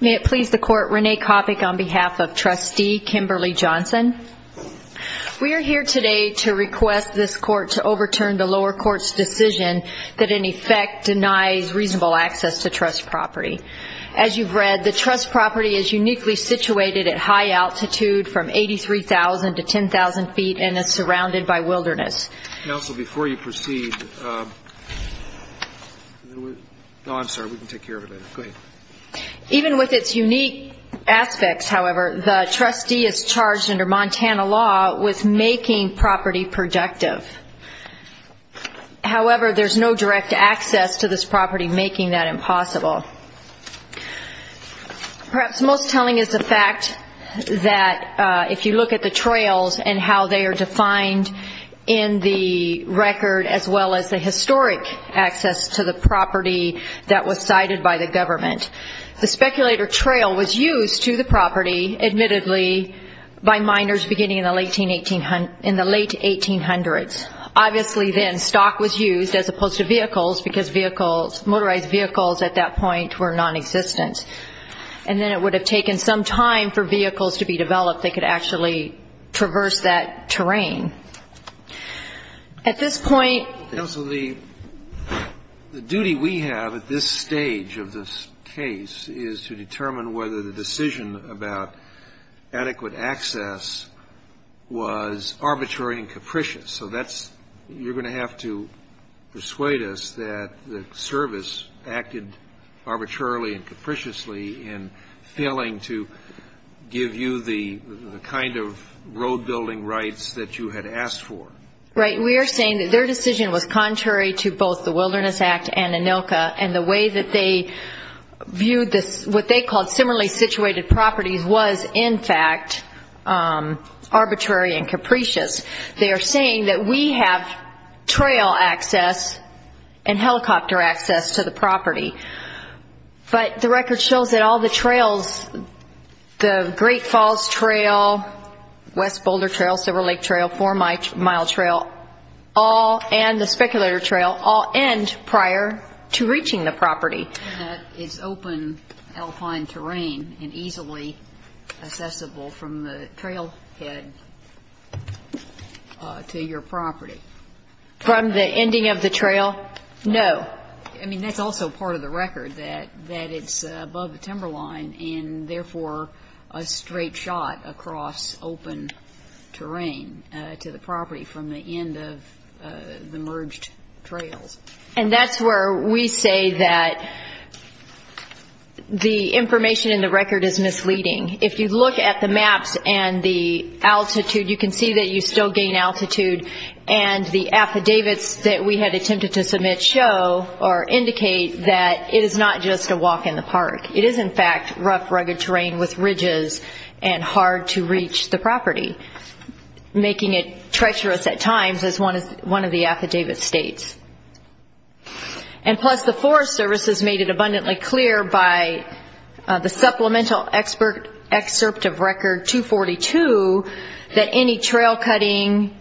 May it please the Court, Renee Coppock on behalf of Trustee Kimberly Johnson. We are here today to request this Court to overturn the lower court's decision that in effect denies reasonable access to trust property. As you've read, the trust property is uniquely you proceed, even with its unique aspects, however, the trustee is charged under Montana law with making property productive. However, there's no direct access to this property, making that impossible. Perhaps most telling is the fact that if you look at the trails and how they are defined in the record as well as the historic access to the property that was cited by the government. The speculator trail was used to the property, admittedly, by miners beginning in the late 1800s. Obviously then stock was used as opposed to vehicles because motorized vehicles at that point were nonexistent. And then it would have taken some time for vehicles to be developed that could actually traverse that terrain. At this point The duty we have at this stage of this case is to determine whether the decision about adequate access was arbitrary and capricious. So that's, you're going to have to persuade us that the service acted arbitrarily and capriciously in failing to give you the kind of road building rights that you had asked for. Right. We are saying that their decision was contrary to both the Wilderness Act and ANILCA and the way that they viewed this, what they called similarly situated properties was, in fact, arbitrary and capricious. They are saying that we have trail access to the property and helicopter access to the property. But the record shows that all the trails, the Great Falls Trail, West Boulder Trail, Silver Lake Trail, Four Mile Trail, all and the Speculator Trail all end prior to reaching the property. And that it's open alpine terrain and easily accessible from the trailhead to your property. From the ending of the trail? No. I mean, that's also part of the record, that it's above the timberline and therefore a straight shot across open terrain to the property from the end of the merged trails. And that's where we say that the information in the record is misleading. If you look at the maps and the altitude, you can see that you still gain altitude and the affidavits that we had attempted to submit show or indicate that it is not just a walk in the park. It is, in fact, rough, rugged terrain with ridges and hard to reach the property, making it treacherous at times as one of the affidavit states. And plus the Forest Service has made it abundantly clear by the Supplemental Excerpt of Record 242 that any trail cutting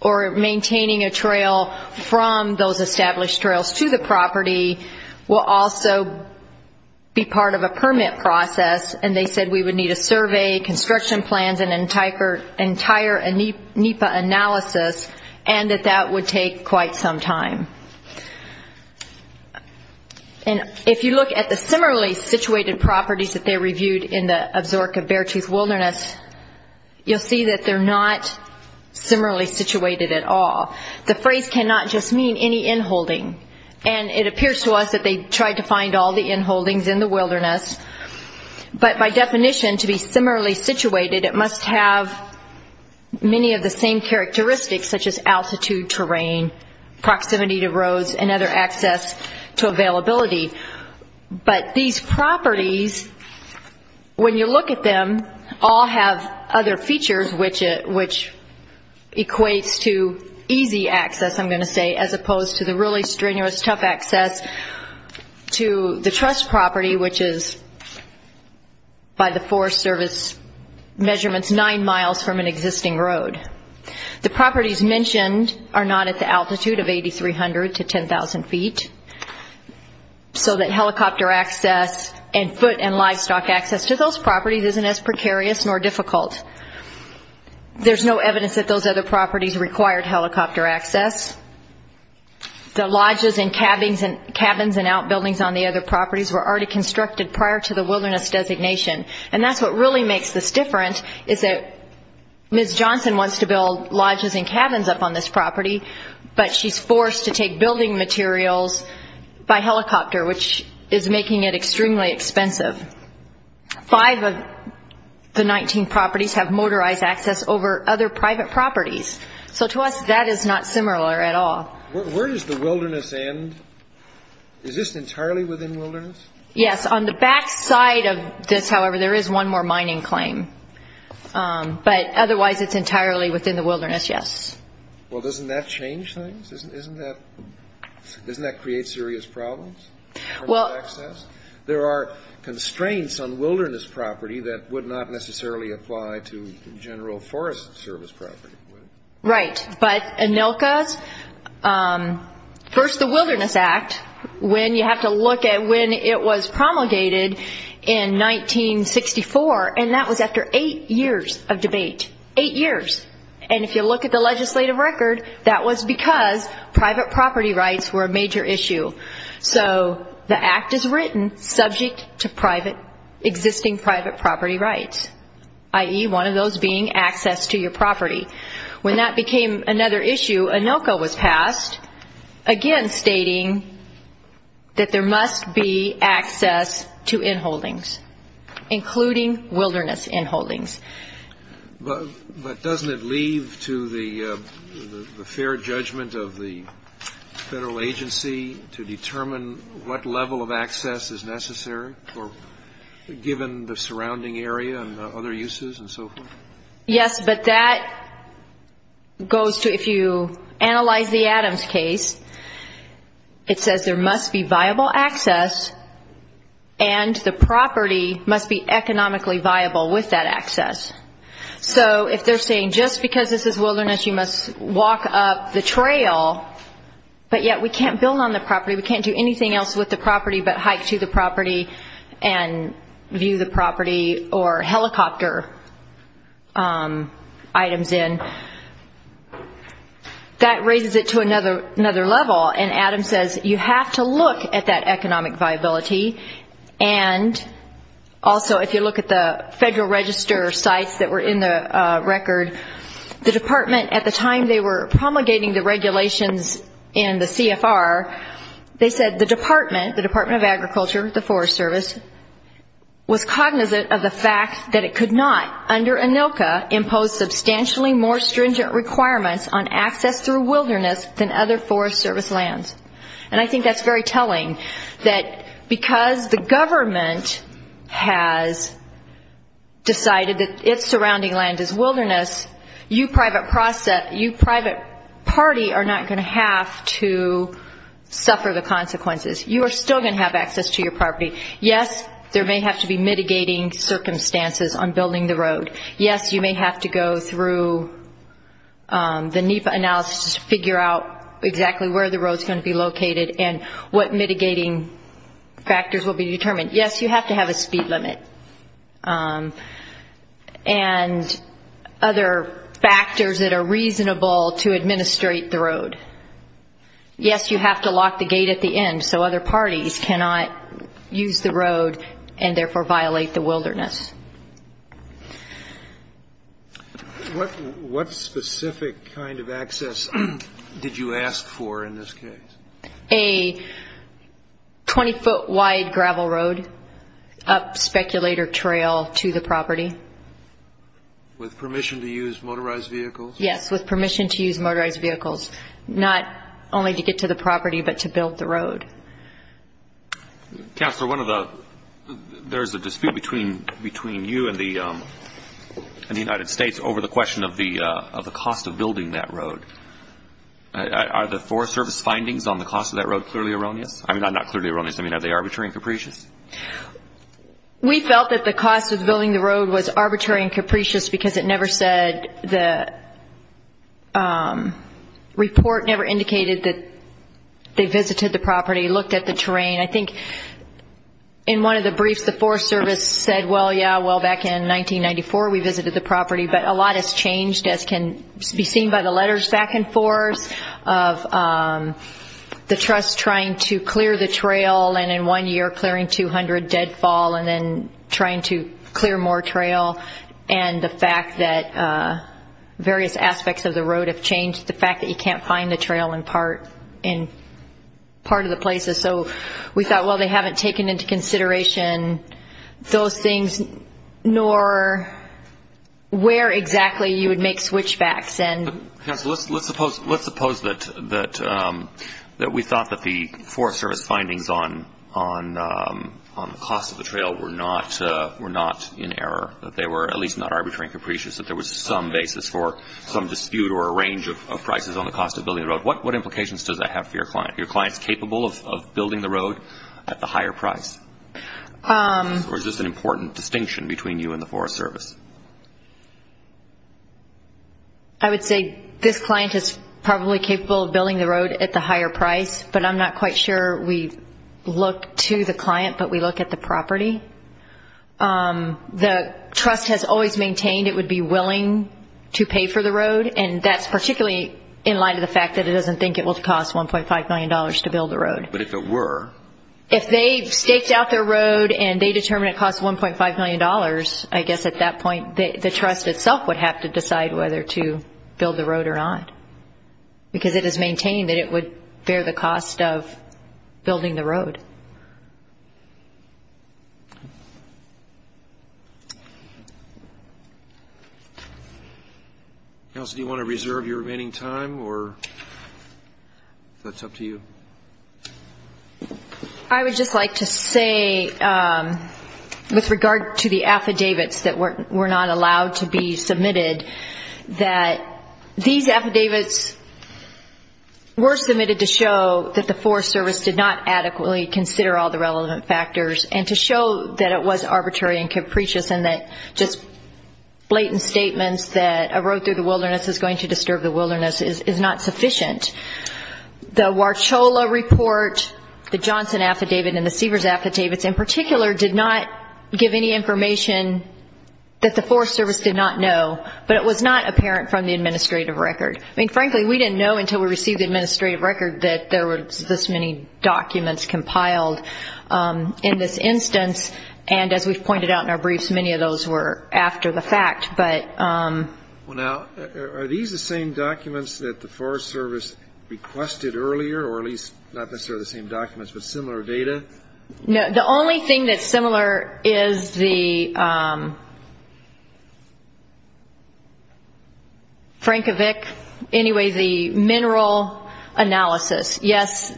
or maintaining a trail from those established trails to the property will also be part of a permit process. And they said we would need a survey, construction plans and entire NEPA analysis and that that would take quite some time. And if you look at the similarly situated properties that they reviewed in the Absaroka Beartooth Wilderness, you'll see that they're not similarly situated at all. The phrase cannot just mean any inholding. And it appears to us that they tried to find all the inholdings in the wilderness. But by definition, to be similarly situated, it must have many of the same characteristics such as altitude, terrain, proximity to roads and other access to availability. But these properties, when you look at them, all have other features which equates to easy access, I'm going to say, as opposed to the really strenuous, tough access to the trust property, which is by the Forest Service measurements nine miles from an existing road. The properties mentioned are not at the altitude of 8,300 to 10,000 feet. So that helicopter access and foot and livestock access to those properties isn't as precarious nor difficult. There's no evidence that those other properties required helicopter access. The lodges and cabins and outbuildings on the other properties were already constructed prior to the wilderness designation. And that's what really makes this different, is that Ms. Johnson wants to build lodges and cabins up on this property, but she's forced to take building materials by helicopter, which is making it extremely expensive. Five of the 19 properties have motorized access over other private properties. So to us, that is not similar at all. Where does the wilderness end? Is this entirely within wilderness? Yes, on the back side of this, however, there is one more mining claim. But otherwise, it's entirely within the wilderness, yes. Well, doesn't that change things? Doesn't that create serious problems? There are constraints on wilderness property that would not necessarily apply to general forest service property. Right. But ANILCA, first the Wilderness Act, when you have to look at when it was promulgated in 1964, and that was after eight years of debate. Eight years. And if you look at the Wilderness Act, you know the act is written subject to private, existing private property rights, i.e., one of those being access to your property. When that became another issue, ANILCA was passed, again stating that there must be access to inholdings, including wilderness inholdings. But doesn't it leave to the fair judgment of the federal agency to determine what level of access is necessary, given the surrounding area and other uses and so forth? Yes, but that goes to if you analyze the Adams case, it says there must be viable access and the property must be economically viable with that access. So if they're saying just because this is wilderness, you must walk up the trail, but yet we can't build on the property, we can't do anything else with the property but hike to the property and view the property or helicopter items in, that raises it to another level. And Adams says you have to look at that economic viability and also if you look at the federal register sites that were in the record, the department at the time they were promulgating the regulations in the CFR, they said the department, the Department of Agriculture, the Forest Service, was cognizant of the fact that it could not, under ANILCA, impose substantially more stringent requirements on access through wilderness than other Forest Service lands. And I think that's very telling, that because the government has decided that its surrounding land is wilderness, you private party are not going to have to suffer the consequences. You are still going to have access to your property. Yes, there may have to be mitigating circumstances on the NEPA analysis to figure out exactly where the road is going to be located and what mitigating factors will be determined. Yes, you have to have a speed limit. And other factors that are reasonable to administrate the road. Yes, you have to lock the gate at the end so other parties cannot use the road and therefore violate the wilderness. What specific kind of access did you ask for in this case? A 20-foot wide gravel road up Speculator Trail to the property. With permission to use motorized vehicles? Yes, with permission to use motorized vehicles. Not only to get to the property, but to build the road. Counselor, there's a dispute between you and the United States over the question of the cost of building that road. Are the Forest Service findings on the cost of that road clearly erroneous? I mean, not clearly erroneous. I mean, are they arbitrary and capricious? We felt that the cost of building the road was arbitrary and capricious because it never said the report never indicated that they visited the property, looked at the terrain. I think in one of the briefs, the Forest Service said, well, yeah, well, back in 1994 we visited the property. But a lot has changed, as can be seen by the letters back and forth of the trust trying to clear the trail and in one year clearing 200 deadfall and then trying to clear more trail and the fact that various aspects of the road have changed, the fact that you can't find the trail in part of the places. So we thought, well, they haven't taken into consideration those things, nor where exactly you would make switchbacks. Let's suppose that we thought that the Forest Service findings on the cost of the trail were not in error, that they were at least not arbitrary and capricious, that there was some basis for some dispute or a range of prices on the cost of building the road. What implications does that have for your clients? Are your clients capable of building the road at the higher price? Or is this an important distinction between you and the Forest Service? I would say this client is probably capable of building the road at the higher price, but I'm not quite sure we look to the client, but we look at the property. The trust has always maintained it would be willing to pay for the road, and that's particularly in light of the fact that it doesn't think it will cost $1.5 million to build the road. But if it were? If they staked out their road and they determined it costs $1.5 million, I guess at that point the trust itself would have to decide whether to build the road or not, because it has maintained that it would bear the cost of building the road. Kelsey, do you want to reserve your remaining time, or if that's up to you? I would just like to say, with regard to the affidavits that were not allowed to be submitted, that these affidavits were submitted to show that the Forest Service did not adequately consider the cost of all the relevant factors, and to show that it was arbitrary and capricious and that just blatant statements that a road through the wilderness is going to disturb the wilderness is not sufficient. The Warchola report, the Johnson affidavit, and the Seavers affidavits in particular did not give any information that the Forest Service did not know, but it was not apparent from the administrative record. I mean, frankly, we didn't know until we received the administrative record that there were this many documents compiled in this instance, and as we've pointed out in our briefs, many of those were after the fact. Well, now, are these the same documents that the Forest Service requested earlier, or at least not necessarily the same documents, but similar data? No, the only thing that's similar is the Frankovic, anyway, the mineral analysis. Yes,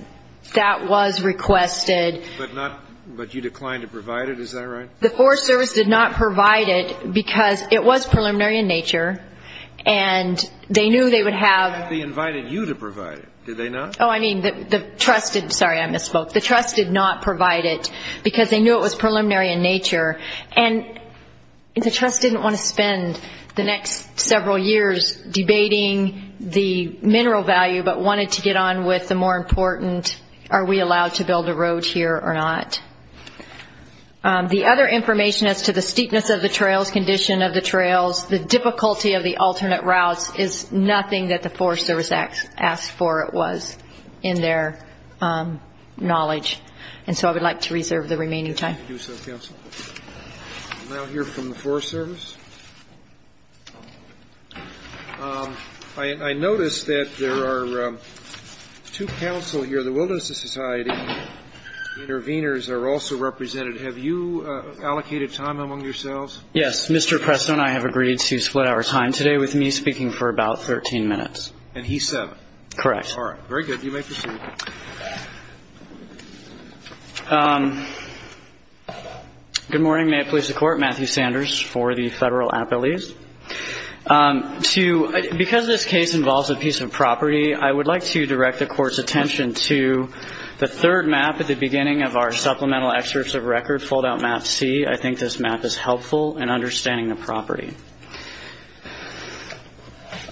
that was requested. But you declined to provide it, is that right? The Forest Service did not provide it because it was preliminary in nature, and they knew they would have They invited you to provide it, did they not? Oh, I mean, sorry, I misspoke. The trust did not provide it because they knew it was preliminary in nature, and the trust didn't want to spend the next several years debating the mineral value, but wanted to get on with the more important, are we allowed to build a road here or not? The other information as to the steepness of the trails, condition of the trails, the difficulty of the alternate routes is nothing that the Forest Service asked for, it was, in their knowledge. And so I would like to reserve the remaining time. Thank you so much, counsel. We'll now hear from the Forest Service. I notice that there are two counsel here. The Wilderness Society intervenors are also represented. Have you allocated time among yourselves? Yes. Mr. Presto and I have agreed to split our time today with me speaking for about 13 minutes. And he's seven. Correct. All right. Very good. You may proceed. Good morning. May it please the Court? Matthew Sanders for the Federal Appellees. To – because this case involves a piece of property, I would like to direct the Court's attention to the third map at the beginning of our supplemental excerpts of record, fold-out map C. I think this map is helpful in understanding the property.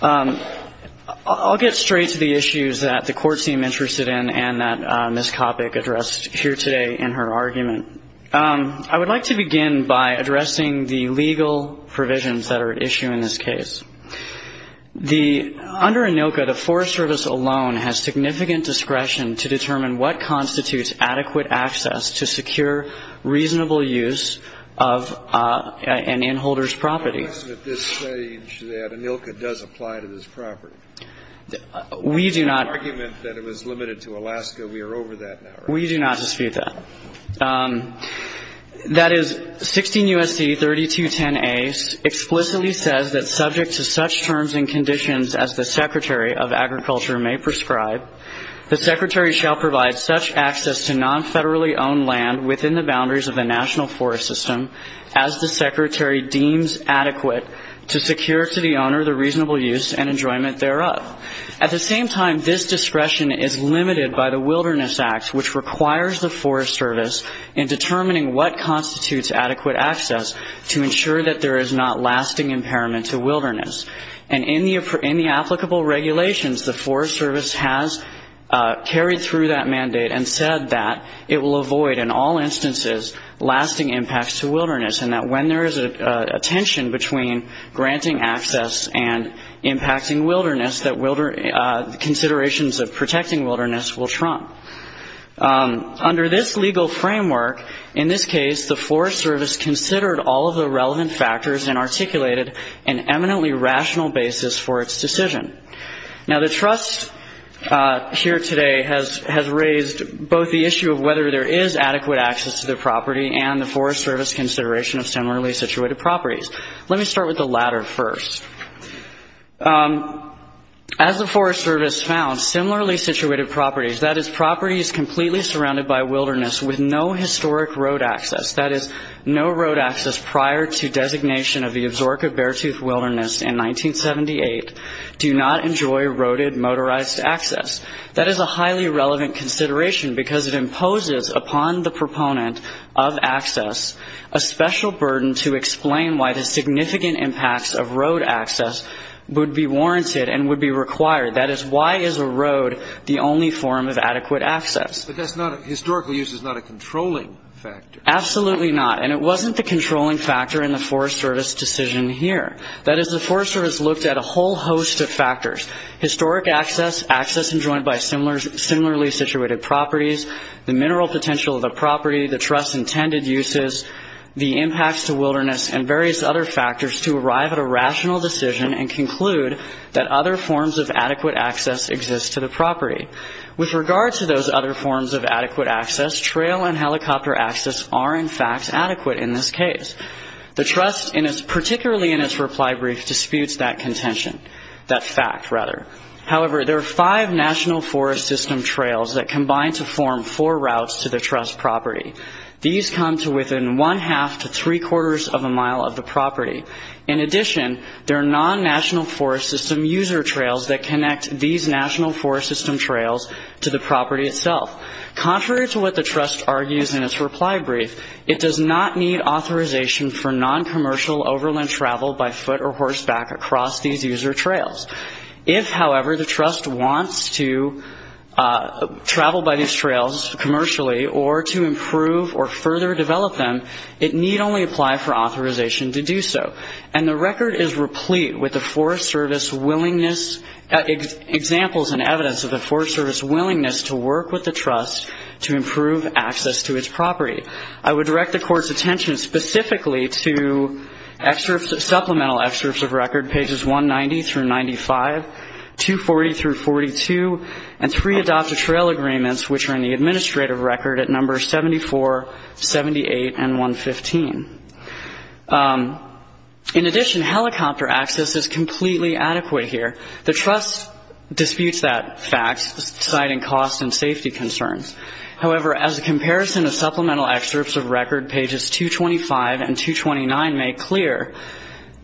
I'll get straight to the issues that the Court seemed interested in and that Ms. Coppock addressed here today in her argument. I would like to begin by addressing the legal provisions that are at issue in this case. The – under ANILCA, the Forest Service alone has significant discretion to determine what constitutes adequate access to secure reasonable use of an inholder's property. I'm guessing at this stage that ANILCA does apply to this property. We do not. In the argument that it was limited to Alaska, we are over that now, right? We do not dispute that. That is, 16 U.S.C. 3210a explicitly says that subject to such terms and conditions as the Secretary of Agriculture may prescribe, the Secretary shall provide such access to non-federally owned land within the boundaries of the national forest system as the Secretary deems adequate to secure to the owner the reasonable use and enjoyment thereof. At the same time, this discretion is limited by the Wilderness Act, which requires the Forest Service in determining what constitutes adequate access to ensure that there is not lasting impairment to wilderness. And in the applicable regulations, the Forest Service has carried through that mandate and said that it will avoid in all instances lasting impacts to wilderness, and that when there is a tension between granting access and impacting wilderness, that considerations of protecting wilderness will trump. Under this legal framework, in this case, the Forest Service considered all of the relevant factors and articulated an eminently rational basis for its decision. Now, the trust here today has raised both the issue of whether there is adequate access to the property and the Forest Service's consideration of similarly situated properties. Let me start with the latter first. As the Forest Service found, similarly situated properties, that is, properties completely surrounded by wilderness with no historic road access, that is, no road access prior to designation of the Absaroka Beartooth Wilderness in 1978, do not enjoy roaded motorized access. That is a highly relevant consideration because it imposes upon the proponent of access a special burden to explain why the significant impacts of road access would be warranted and would be required. That is, why is a road the only form of adequate access? But that's not a – historical use is not a controlling factor. Absolutely not. And it wasn't the controlling factor in the Forest Service decision here. Historic access, access enjoined by similarly situated properties, the mineral potential of the property, the trust's intended uses, the impacts to wilderness, and various other factors to arrive at a rational decision and conclude that other forms of adequate access exist to the property. With regard to those other forms of adequate access, trail and helicopter access are, in fact, adequate in this case. The trust, particularly in its reply brief, disputes that contention, that fact, rather. However, there are five national forest system trails that combine to form four routes to the trust property. These come to within one-half to three-quarters of a mile of the property. In addition, there are non-national forest system user trails that connect these national forest system trails to the property itself. Contrary to what the trust argues in its reply brief, it does not need authorization for non-commercial overland travel by foot or horseback across these user trails. If, however, the trust wants to travel by these trails commercially or to improve or further develop them, it need only apply for authorization to do so. And the record is replete with the Forest Service willingness, examples and evidence of the Forest Service willingness to work with the trust to improve access to its property. I would direct the Court's attention specifically to supplemental excerpts of record, pages 190 through 95, 240 through 42, and three adopted trail agreements, which are in the administrative record at numbers 74, 78, and 115. In addition, helicopter access is completely adequate here. The trust disputes that fact, citing cost and safety concerns. However, as a comparison of supplemental excerpts of record, pages 225 and 229 make clear,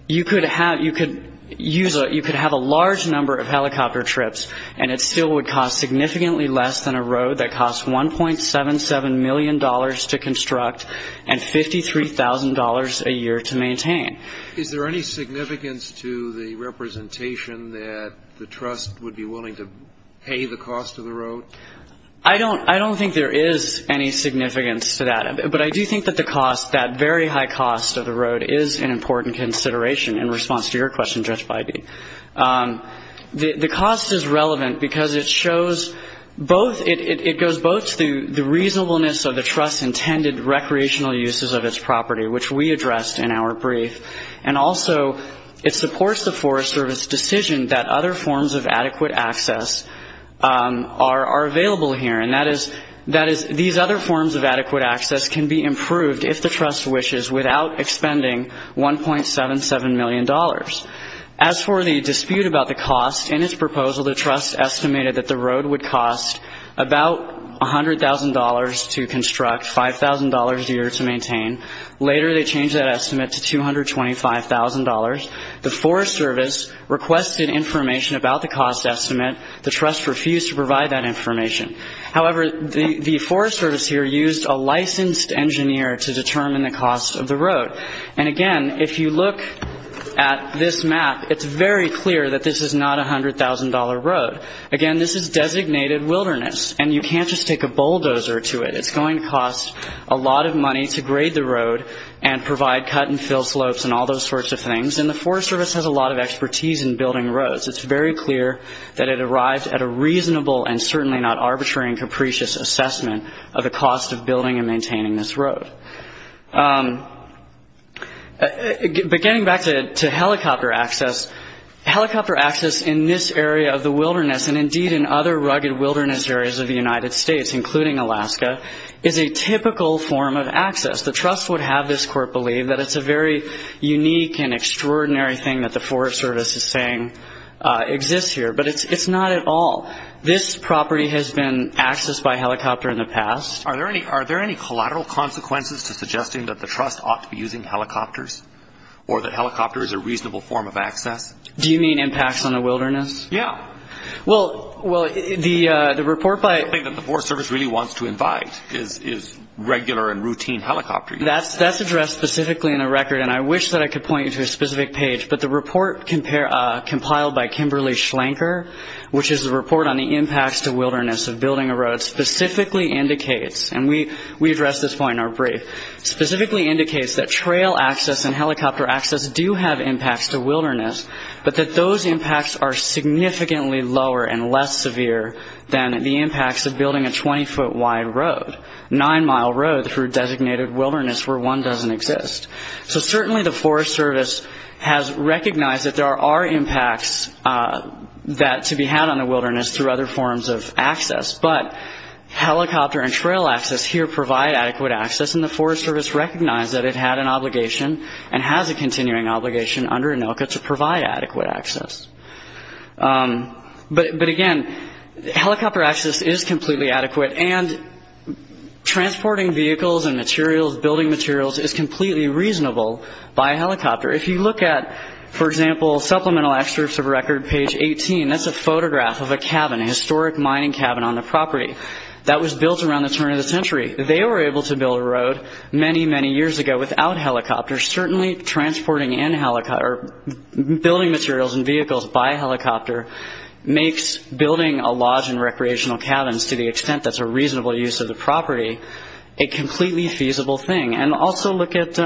you could have a large number of helicopter trips, and it still would cost significantly less than a road that costs $1.77 million to construct and $53,000 a year to maintain. Is there any significance to the representation that the trust would be willing to pay the cost of the road? I don't think there is any significance to that. But I do think that the cost, that very high cost of the road, is an important consideration in response to your question, Judge Beide. The cost is relevant because it shows both, it goes both to the reasonableness of the trust's intended recreational uses of its property, which we addressed in our brief, and also it supports the Forest Service decision that other forms of adequate access are available here. And that is, these other forms of adequate access can be improved, if the trust wishes, without expending $1.77 million. As for the dispute about the cost, in its proposal, the trust estimated that the road would cost about $100,000 to construct, $5,000 a year to maintain. Later, they changed that estimate to $225,000. The Forest Service requested information about the cost estimate. The trust refused to provide that information. However, the Forest Service here used a licensed engineer to determine the cost of the road. And again, if you look at this map, it's very clear that this is not a $100,000 road. Again, this is designated wilderness, and you can't just take a bulldozer to it. It's going to cost a lot of money to grade the road and provide cut and fill slopes and all those sorts of things, and the Forest Service has a lot of expertise in building roads. It's very clear that it arrived at a reasonable and certainly not arbitrary and capricious assessment of the cost of building and maintaining this road. But getting back to helicopter access, helicopter access in this area of the wilderness and indeed in other rugged wilderness areas of the United States, including Alaska, is a typical form of access. The trust would have this court believe that it's a very unique and extraordinary thing that the Forest Service is saying exists here, but it's not at all. This property has been accessed by helicopter in the past. Are there any collateral consequences to suggesting that the trust ought to be using helicopters or that helicopter is a reasonable form of access? Do you mean impacts on the wilderness? Yeah. Well, the report by – The only thing that the Forest Service really wants to invite is regular and routine helicopter use. That's addressed specifically in the record, and I wish that I could point you to a specific page, but the report compiled by Kimberly Schlenker, which is the report on the impacts to wilderness of building a road, specifically indicates – and we address this point in our brief – specifically indicates that trail access and helicopter access do have impacts to wilderness, but that those impacts are significantly lower and less severe than the impacts of building a 20-foot-wide road, nine-mile road through designated wilderness where one doesn't exist. So certainly the Forest Service has recognized that there are impacts that – to be had on the wilderness through other forms of access, but helicopter and trail access here provide adequate access, and the Forest Service recognized that it had an obligation and has a continuing obligation under ANILCA to provide adequate access. But again, helicopter access is completely adequate, and transporting vehicles and materials, building materials, is completely reasonable by a helicopter. If you look at, for example, supplemental excerpts of record, page 18, that's a photograph of a cabin, a historic mining cabin on the property that was built around the turn of the century. They were able to build a road many, many years ago without helicopters. Certainly transporting in – or building materials and vehicles by helicopter makes building a lodge and recreational cabins, to the extent that's a reasonable use of the property, a completely feasible thing. And also look at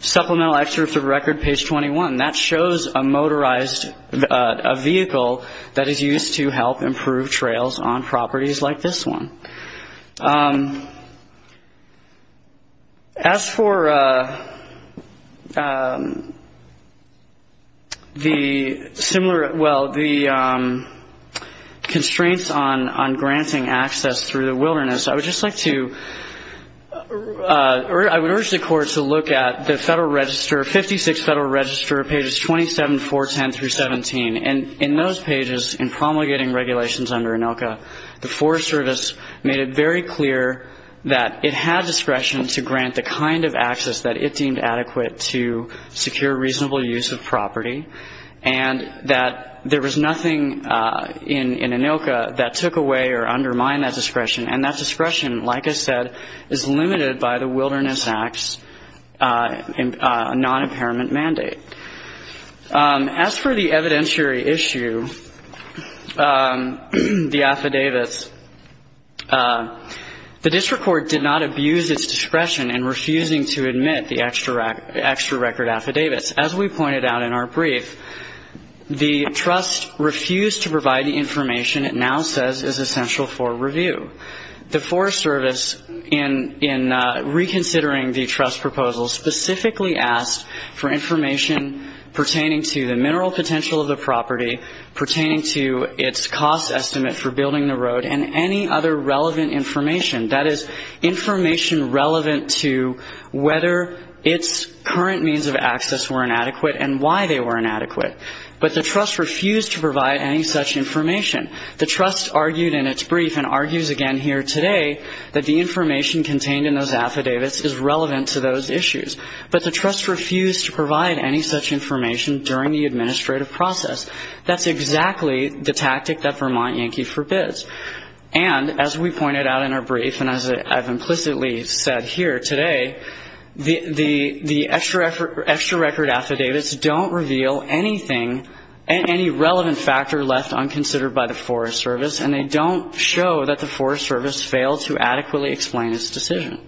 supplemental excerpts of record, page 21. That shows a motorized – a vehicle that is used to help improve trails on properties like this one. As for the similar – well, the constraints on granting access through the wilderness, I would just like to – or I would urge the Court to look at the Federal Register, 56 Federal Register, pages 27, 410 through 17. And in those pages, in promulgating regulations under ANILCA, the Forest Service made it very clear that it had discretion to grant the kind of access that it deemed adequate to secure reasonable use of property, and that there was nothing in ANILCA that took away or undermined that discretion. And that discretion, like I said, is limited by the Wilderness Act's non-impairment mandate. As for the evidentiary issue, the affidavits, the district court did not abuse its discretion in refusing to admit the extra record affidavits. As we pointed out in our brief, the trust refused to provide the information it now says is essential for review. The Forest Service, in reconsidering the trust proposal, specifically asked for information pertaining to the mineral potential of the property, pertaining to its cost estimate for building the road, and any other relevant information, that is, information relevant to whether its current means of access were inadequate and why they were inadequate. But the trust refused to provide any such information. The trust argued in its brief, and argues again here today, that the information contained in those affidavits is relevant to those issues. But the trust refused to provide any such information during the administrative process. That's exactly the tactic that Vermont Yankee forbids. And as we pointed out in our brief, and as I've implicitly said here today, the extra record affidavits don't reveal anything, any relevant factor left unconsidered by the Forest Service, and they don't show that the Forest Service failed to adequately explain its decision.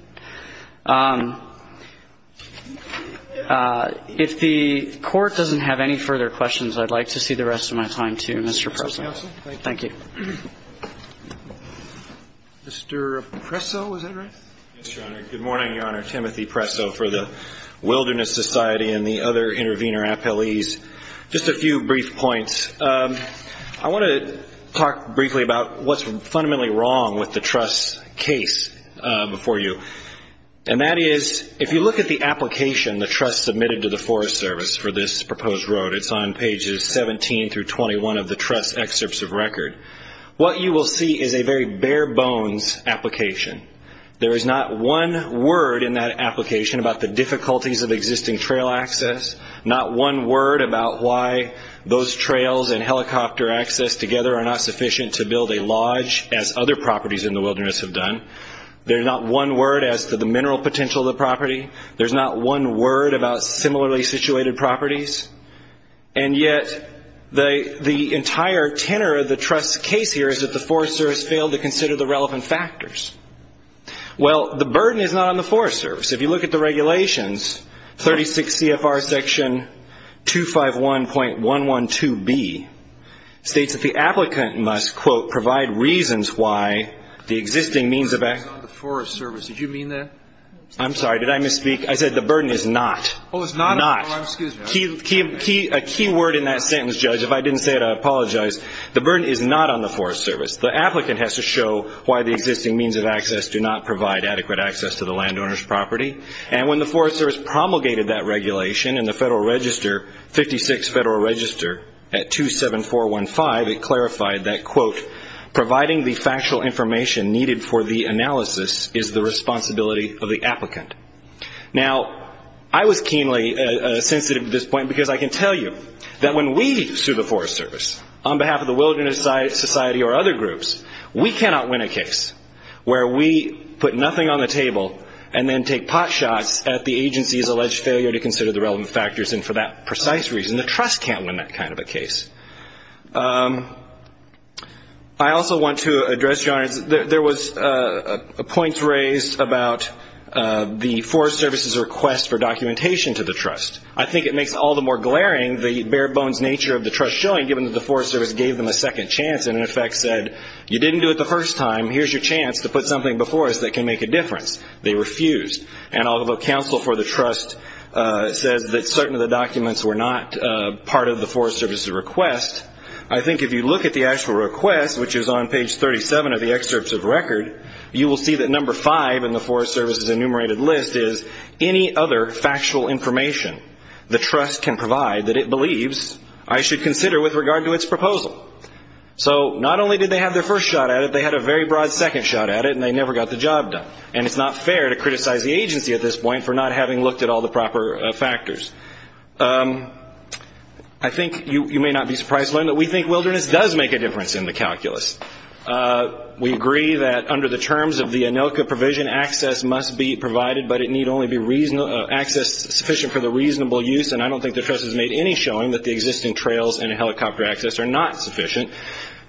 If the Court doesn't have any further questions, I'd like to see the rest of my time, too, Mr. Presso. Thank you. Mr. Presso, is that right? Yes, Your Honor. Good morning, Your Honor. Timothy Presso for the Wilderness Society and the other intervener appellees. Just a few brief points. I want to talk briefly about what's fundamentally wrong with the trust's case before you. And that is, if you look at the application the trust submitted to the Forest Service for this proposed road, it's on pages 17 through 21 of the trust's excerpts of record, what you will see is a very bare-bones application. There is not one word in that application about the difficulties of existing trail access, not one word about why those trails and helicopter access together are not sufficient to build a lodge, as other properties in the wilderness have done. There's not one word as to the mineral potential of the property. There's not one word about similarly situated properties. And yet the entire tenor of the trust's case here is that the Forest Service failed to consider the relevant factors. Well, the burden is not on the Forest Service. If you look at the regulations, 36 CFR section 251.112B states that the applicant must, quote, provide reasons why the existing means of access. The burden is not on the Forest Service. Did you mean that? I'm sorry. Did I misspeak? I said the burden is not. Oh, it's not? Not. Oh, excuse me. A key word in that sentence, Judge. If I didn't say it, I apologize. The burden is not on the Forest Service. The applicant has to show why the existing means of access do not provide adequate access to the landowner's property. And when the Forest Service promulgated that regulation in the Federal Register, 56 Federal Register at 27415, it clarified that, quote, providing the factual information needed for the analysis is the responsibility of the applicant. Now, I was keenly sensitive to this point because I can tell you that when we sue the Forest Service on behalf of the groups, we cannot win a case where we put nothing on the table and then take pot shots at the agency's alleged failure to consider the relevant factors. And for that precise reason, the Trust can't win that kind of a case. I also want to address, Your Honor, there was points raised about the Forest Service's request for documentation to the Trust. I think it makes it all the more glaring the bare-bones nature of the Trust showing, given that the Forest Service gave them a second chance and, in effect, said, you didn't do it the first time, here's your chance to put something before us that can make a difference. They refused. And although counsel for the Trust says that certain of the documents were not part of the Forest Service's request, I think if you look at the actual request, which is on page 37 of the excerpts of record, you will see that number five in the Forest Service's enumerated list is any other factual information the Trust can provide that it believes I should consider with regard to its proposal. So not only did they have their first shot at it, they had a very broad second shot at it, and they never got the job done. And it's not fair to criticize the agency at this point for not having looked at all the proper factors. I think you may not be surprised to learn that we think wilderness does make a difference in the calculus. We agree that under the terms of the ANILCA provision, access must be provided, but it need only be access sufficient for the reasonable use, and I don't think the Trust has made any showing that the existing trails and helicopter access are not sufficient.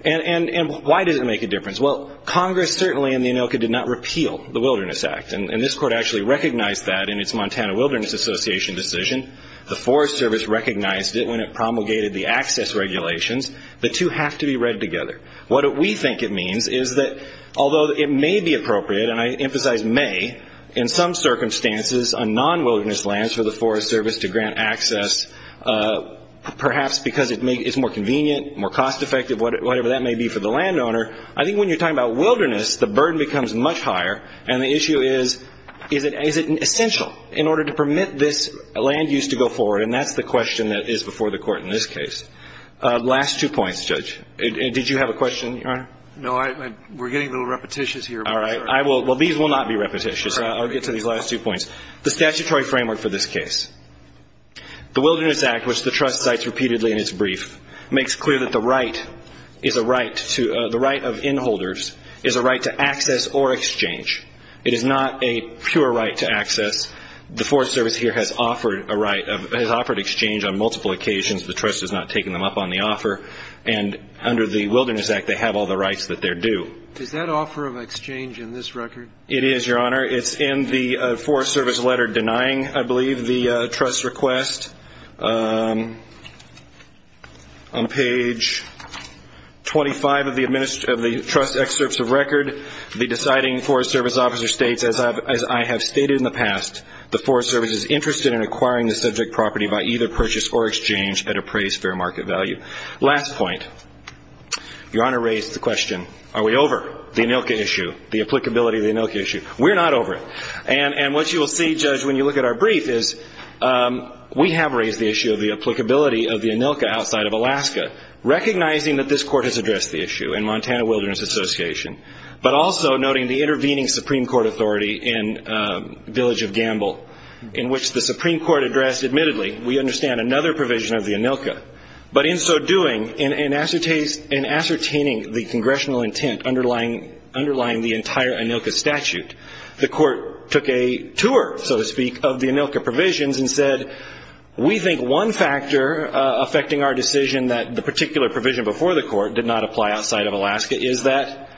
And why does it make a difference? Well, Congress certainly in the ANILCA did not repeal the Wilderness Act, and this Court actually recognized that in its Montana Wilderness Association decision. The Forest Service recognized it when it promulgated the access regulations. The two have to be read together. What we think it means is that although it may be appropriate, and I emphasize may, in some circumstances on non-wilderness lands for the Forest Service to grant access, perhaps because it's more convenient, more cost-effective, whatever that may be for the landowner, I think when you're talking about wilderness, the burden becomes much higher, and the issue is, is it essential in order to permit this land use to go forward? And that's the question that is before the Court in this case. Last two points, Judge. Did you have a question, Your Honor? No. We're getting a little repetitious here. All right. Well, these will not be repetitious. I'll get to these last two points. The statutory framework for this case. The Wilderness Act, which the Trust cites repeatedly in its brief, makes clear that the right is a right to the right of in-holders is a right to access or exchange. It is not a pure right to access. The Forest Service here has offered a right, has offered exchange on multiple occasions. The Trust has not taken them up on the offer. And under the Wilderness Act, they have all the rights that they're due. Is that offer of exchange in this record? It is, Your Honor. It's in the Forest Service letter denying, I believe, the Trust's request. On page 25 of the Trust excerpts of record, the deciding Forest Service officer states, as I have stated in the past, the Forest Service is interested in acquiring the subject property by either purchase or exchange at appraised fair market value. Last point. Your Honor raised the question, are we over the ANILCA issue, the applicability of the ANILCA issue? We're not over it. And what you will see, Judge, when you look at our brief is we have raised the issue of the applicability of the ANILCA outside of Alaska, recognizing that this Court has addressed the issue in Montana Wilderness Association, but also noting the intervening Supreme Court authority in Village of Gamble, in which the Supreme Court addressed, admittedly, we understand another provision of the ANILCA. But in so doing, in ascertaining the congressional intent underlying the entire ANILCA statute, the Court took a tour, so to speak, of the ANILCA provisions and said, we think one factor affecting our decision that the particular provision before the Court did not apply outside of Alaska is that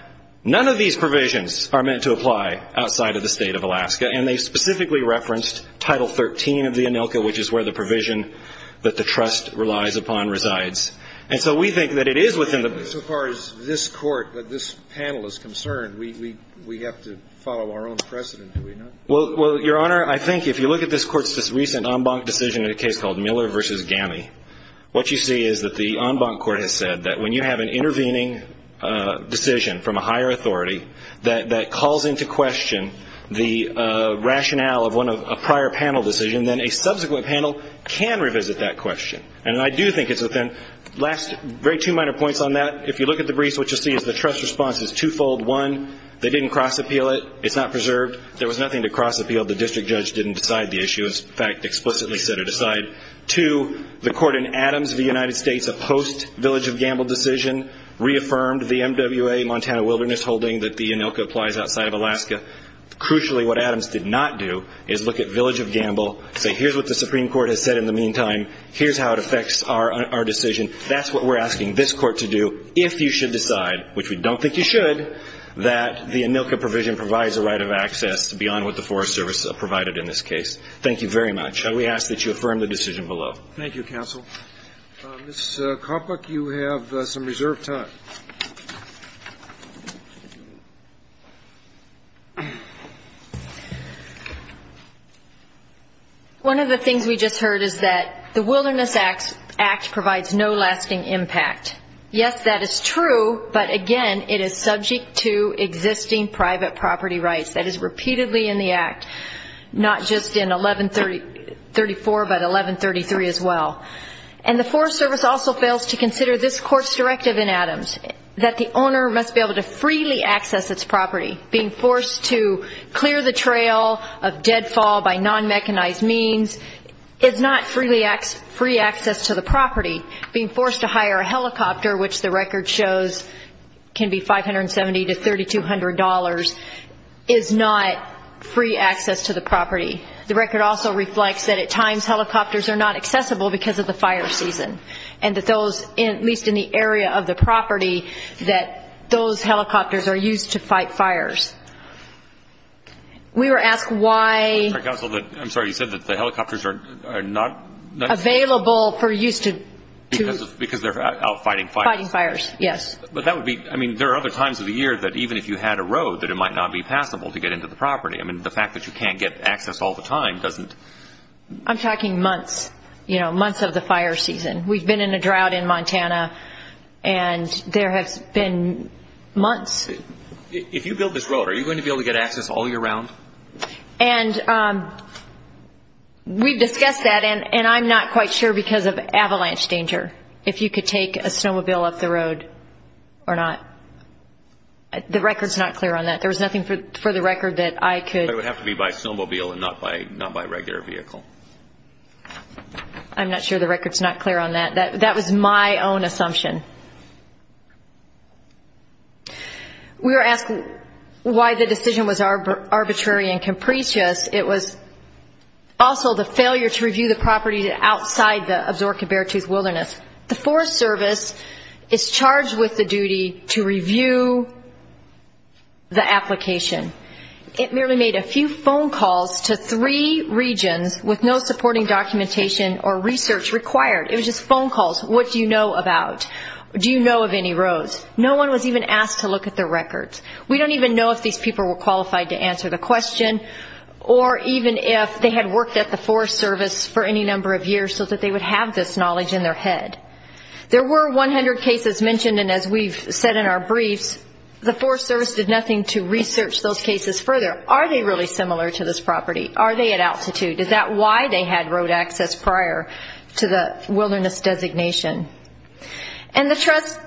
none of these provisions are meant to apply outside of the state of Alaska. And they specifically referenced Title XIII of the ANILCA, which is where the provision that the trust relies upon resides. And so we think that it is within the ---- So far as this Court, this panel is concerned, we have to follow our own precedent, do we not? Well, Your Honor, I think if you look at this Court's recent en banc decision in a case called Miller v. Gamble, what you see is that the en banc Court has said that when you have an intervening decision from a higher authority that calls into question the rationale of one of a prior panel decision, then a subsequent panel can revisit that question. And I do think it's within very two minor points on that. If you look at the briefs, what you'll see is the trust response is twofold. One, they didn't cross-appeal it. It's not preserved. There was nothing to cross-appeal. The district judge didn't decide the issue. In fact, explicitly set it aside. Two, the Court in Adams v. United States, a post-Village of Gamble decision, reaffirmed the MWA Montana Wilderness Holding that the ANILCA applies outside of Alaska. Crucially, what Adams did not do is look at Village of Gamble, say, here's what the Supreme Court has said in the meantime, here's how it affects our decision. That's what we're asking this Court to do, if you should decide, which we don't think you should, that the ANILCA provision provides a right of access beyond what the Forest Service provided in this case. Thank you very much. And we ask that you affirm the decision below. Thank you, counsel. Ms. Karpuk, you have some reserved time. One of the things we just heard is that the Wilderness Act provides no lasting impact. Yes, that is true, but, again, it is subject to existing private property rights. That is repeatedly in the Act, not just in 1134 but 1133 as well. And the Forest Service also fails to consider this Court's directive in Adams, that the owner must be able to freely access its property. Being forced to clear the trail of deadfall by non-mechanized means is not free access to the property. Being forced to hire a helicopter, which the record shows can be $570 to $3,200, is not free access to the property. The record also reflects that at times helicopters are not accessible because of the fire season, and that those, at least in the area of the property, that those helicopters are used to fight fires. We were asked why. Counsel, I'm sorry, you said that the helicopters are not. Available for use to. Because they're out fighting fires. Fighting fires, yes. But that would be, I mean, there are other times of the year that even if you had a road, that it might not be passable to get into the property. I mean, the fact that you can't get access all the time doesn't. I'm talking months, you know, months of the fire season. We've been in a drought in Montana, and there has been months. If you build this road, are you going to be able to get access all year round? And we've discussed that, and I'm not quite sure because of avalanche danger, if you could take a snowmobile up the road or not. The record's not clear on that. There was nothing for the record that I could. It would have to be by snowmobile and not by regular vehicle. I'm not sure the record's not clear on that. That was my own assumption. We were asked why the decision was arbitrary and capricious. It was also the failure to review the property outside the Absaroka Beartooth Wilderness. The Forest Service is charged with the duty to review the application. It merely made a few phone calls to three regions with no supporting documentation or research required. It was just phone calls. What do you know about? Do you know of any roads? No one was even asked to look at the records. We don't even know if these people were qualified to answer the question or even if they had worked at the Forest Service for any number of years so that they would have this knowledge in their head. There were 100 cases mentioned, and as we've said in our briefs, the Forest Service did nothing to research those cases further. Are they really similar to this property? Are they at altitude? Is that why they had road access prior to the wilderness designation? And the Trust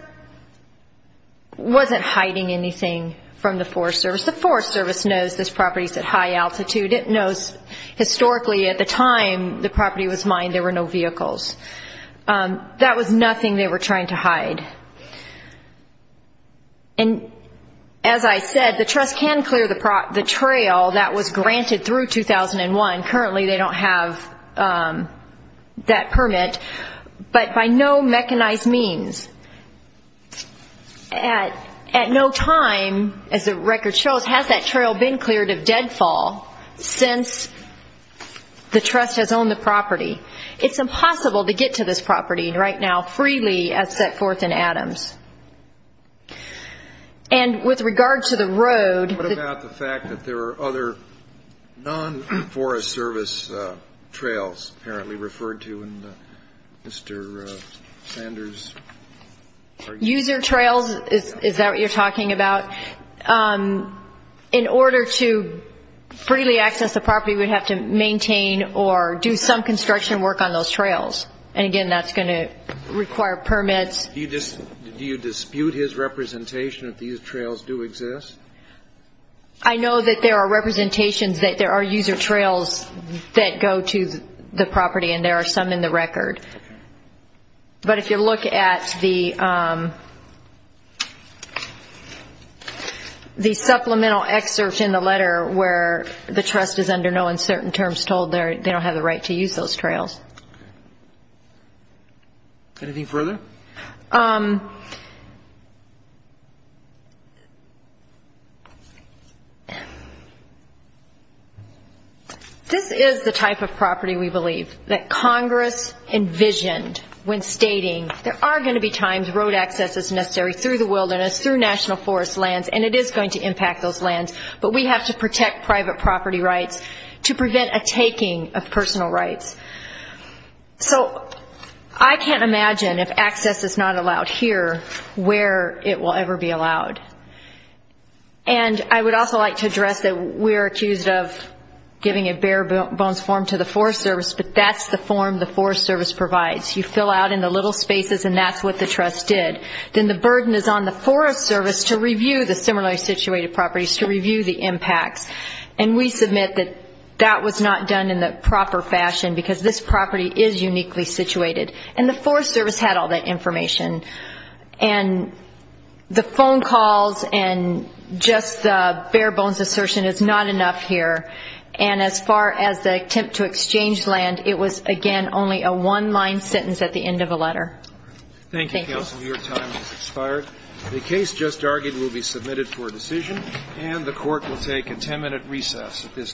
wasn't hiding anything from the Forest Service. The Forest Service knows this property is at high altitude. It knows historically at the time the property was mined there were no vehicles. That was nothing they were trying to hide. And as I said, the Trust can clear the trail that was granted through 2001. Currently they don't have that permit, but by no mechanized means. At no time, as the record shows, has that trail been cleared of deadfall since the Trust has owned the property. It's impossible to get to this property right now freely as set forth in Adams. And with regard to the road. What about the fact that there are other non-Forest Service trails apparently referred to in Mr. Sanders? User trails, is that what you're talking about? In order to freely access the property, we'd have to maintain or do some construction work on those trails. And, again, that's going to require permits. Do you dispute his representation that these trails do exist? I know that there are representations that there are user trails that go to the property, and there are some in the record. But if you look at the supplemental excerpt in the letter where the Trust is under no uncertain terms told, they don't have the right to use those trails. Anything further? This is the type of property we believe that Congress envisioned when stating there are going to be times road access is necessary through the wilderness, through national forest lands, and it is going to impact those lands. But we have to protect private property rights to prevent a taking of personal rights. So I can't imagine if access is not allowed here where it will ever be allowed. And I would also like to address that we are accused of giving a bare-bones form to the Forest Service, but that's the form the Forest Service provides. You fill out in the little spaces, and that's what the Trust did. Then the burden is on the Forest Service to review the similarly situated properties, to review the impacts, and we submit that that was not done in the proper fashion because this property is uniquely situated. And the Forest Service had all that information. And the phone calls and just the bare-bones assertion is not enough here. And as far as the attempt to exchange land, it was, again, only a one-line sentence at the end of the letter. Thank you, Counsel. Your time has expired. The case just argued will be submitted for decision, and the Court will take a ten-minute recess at this time.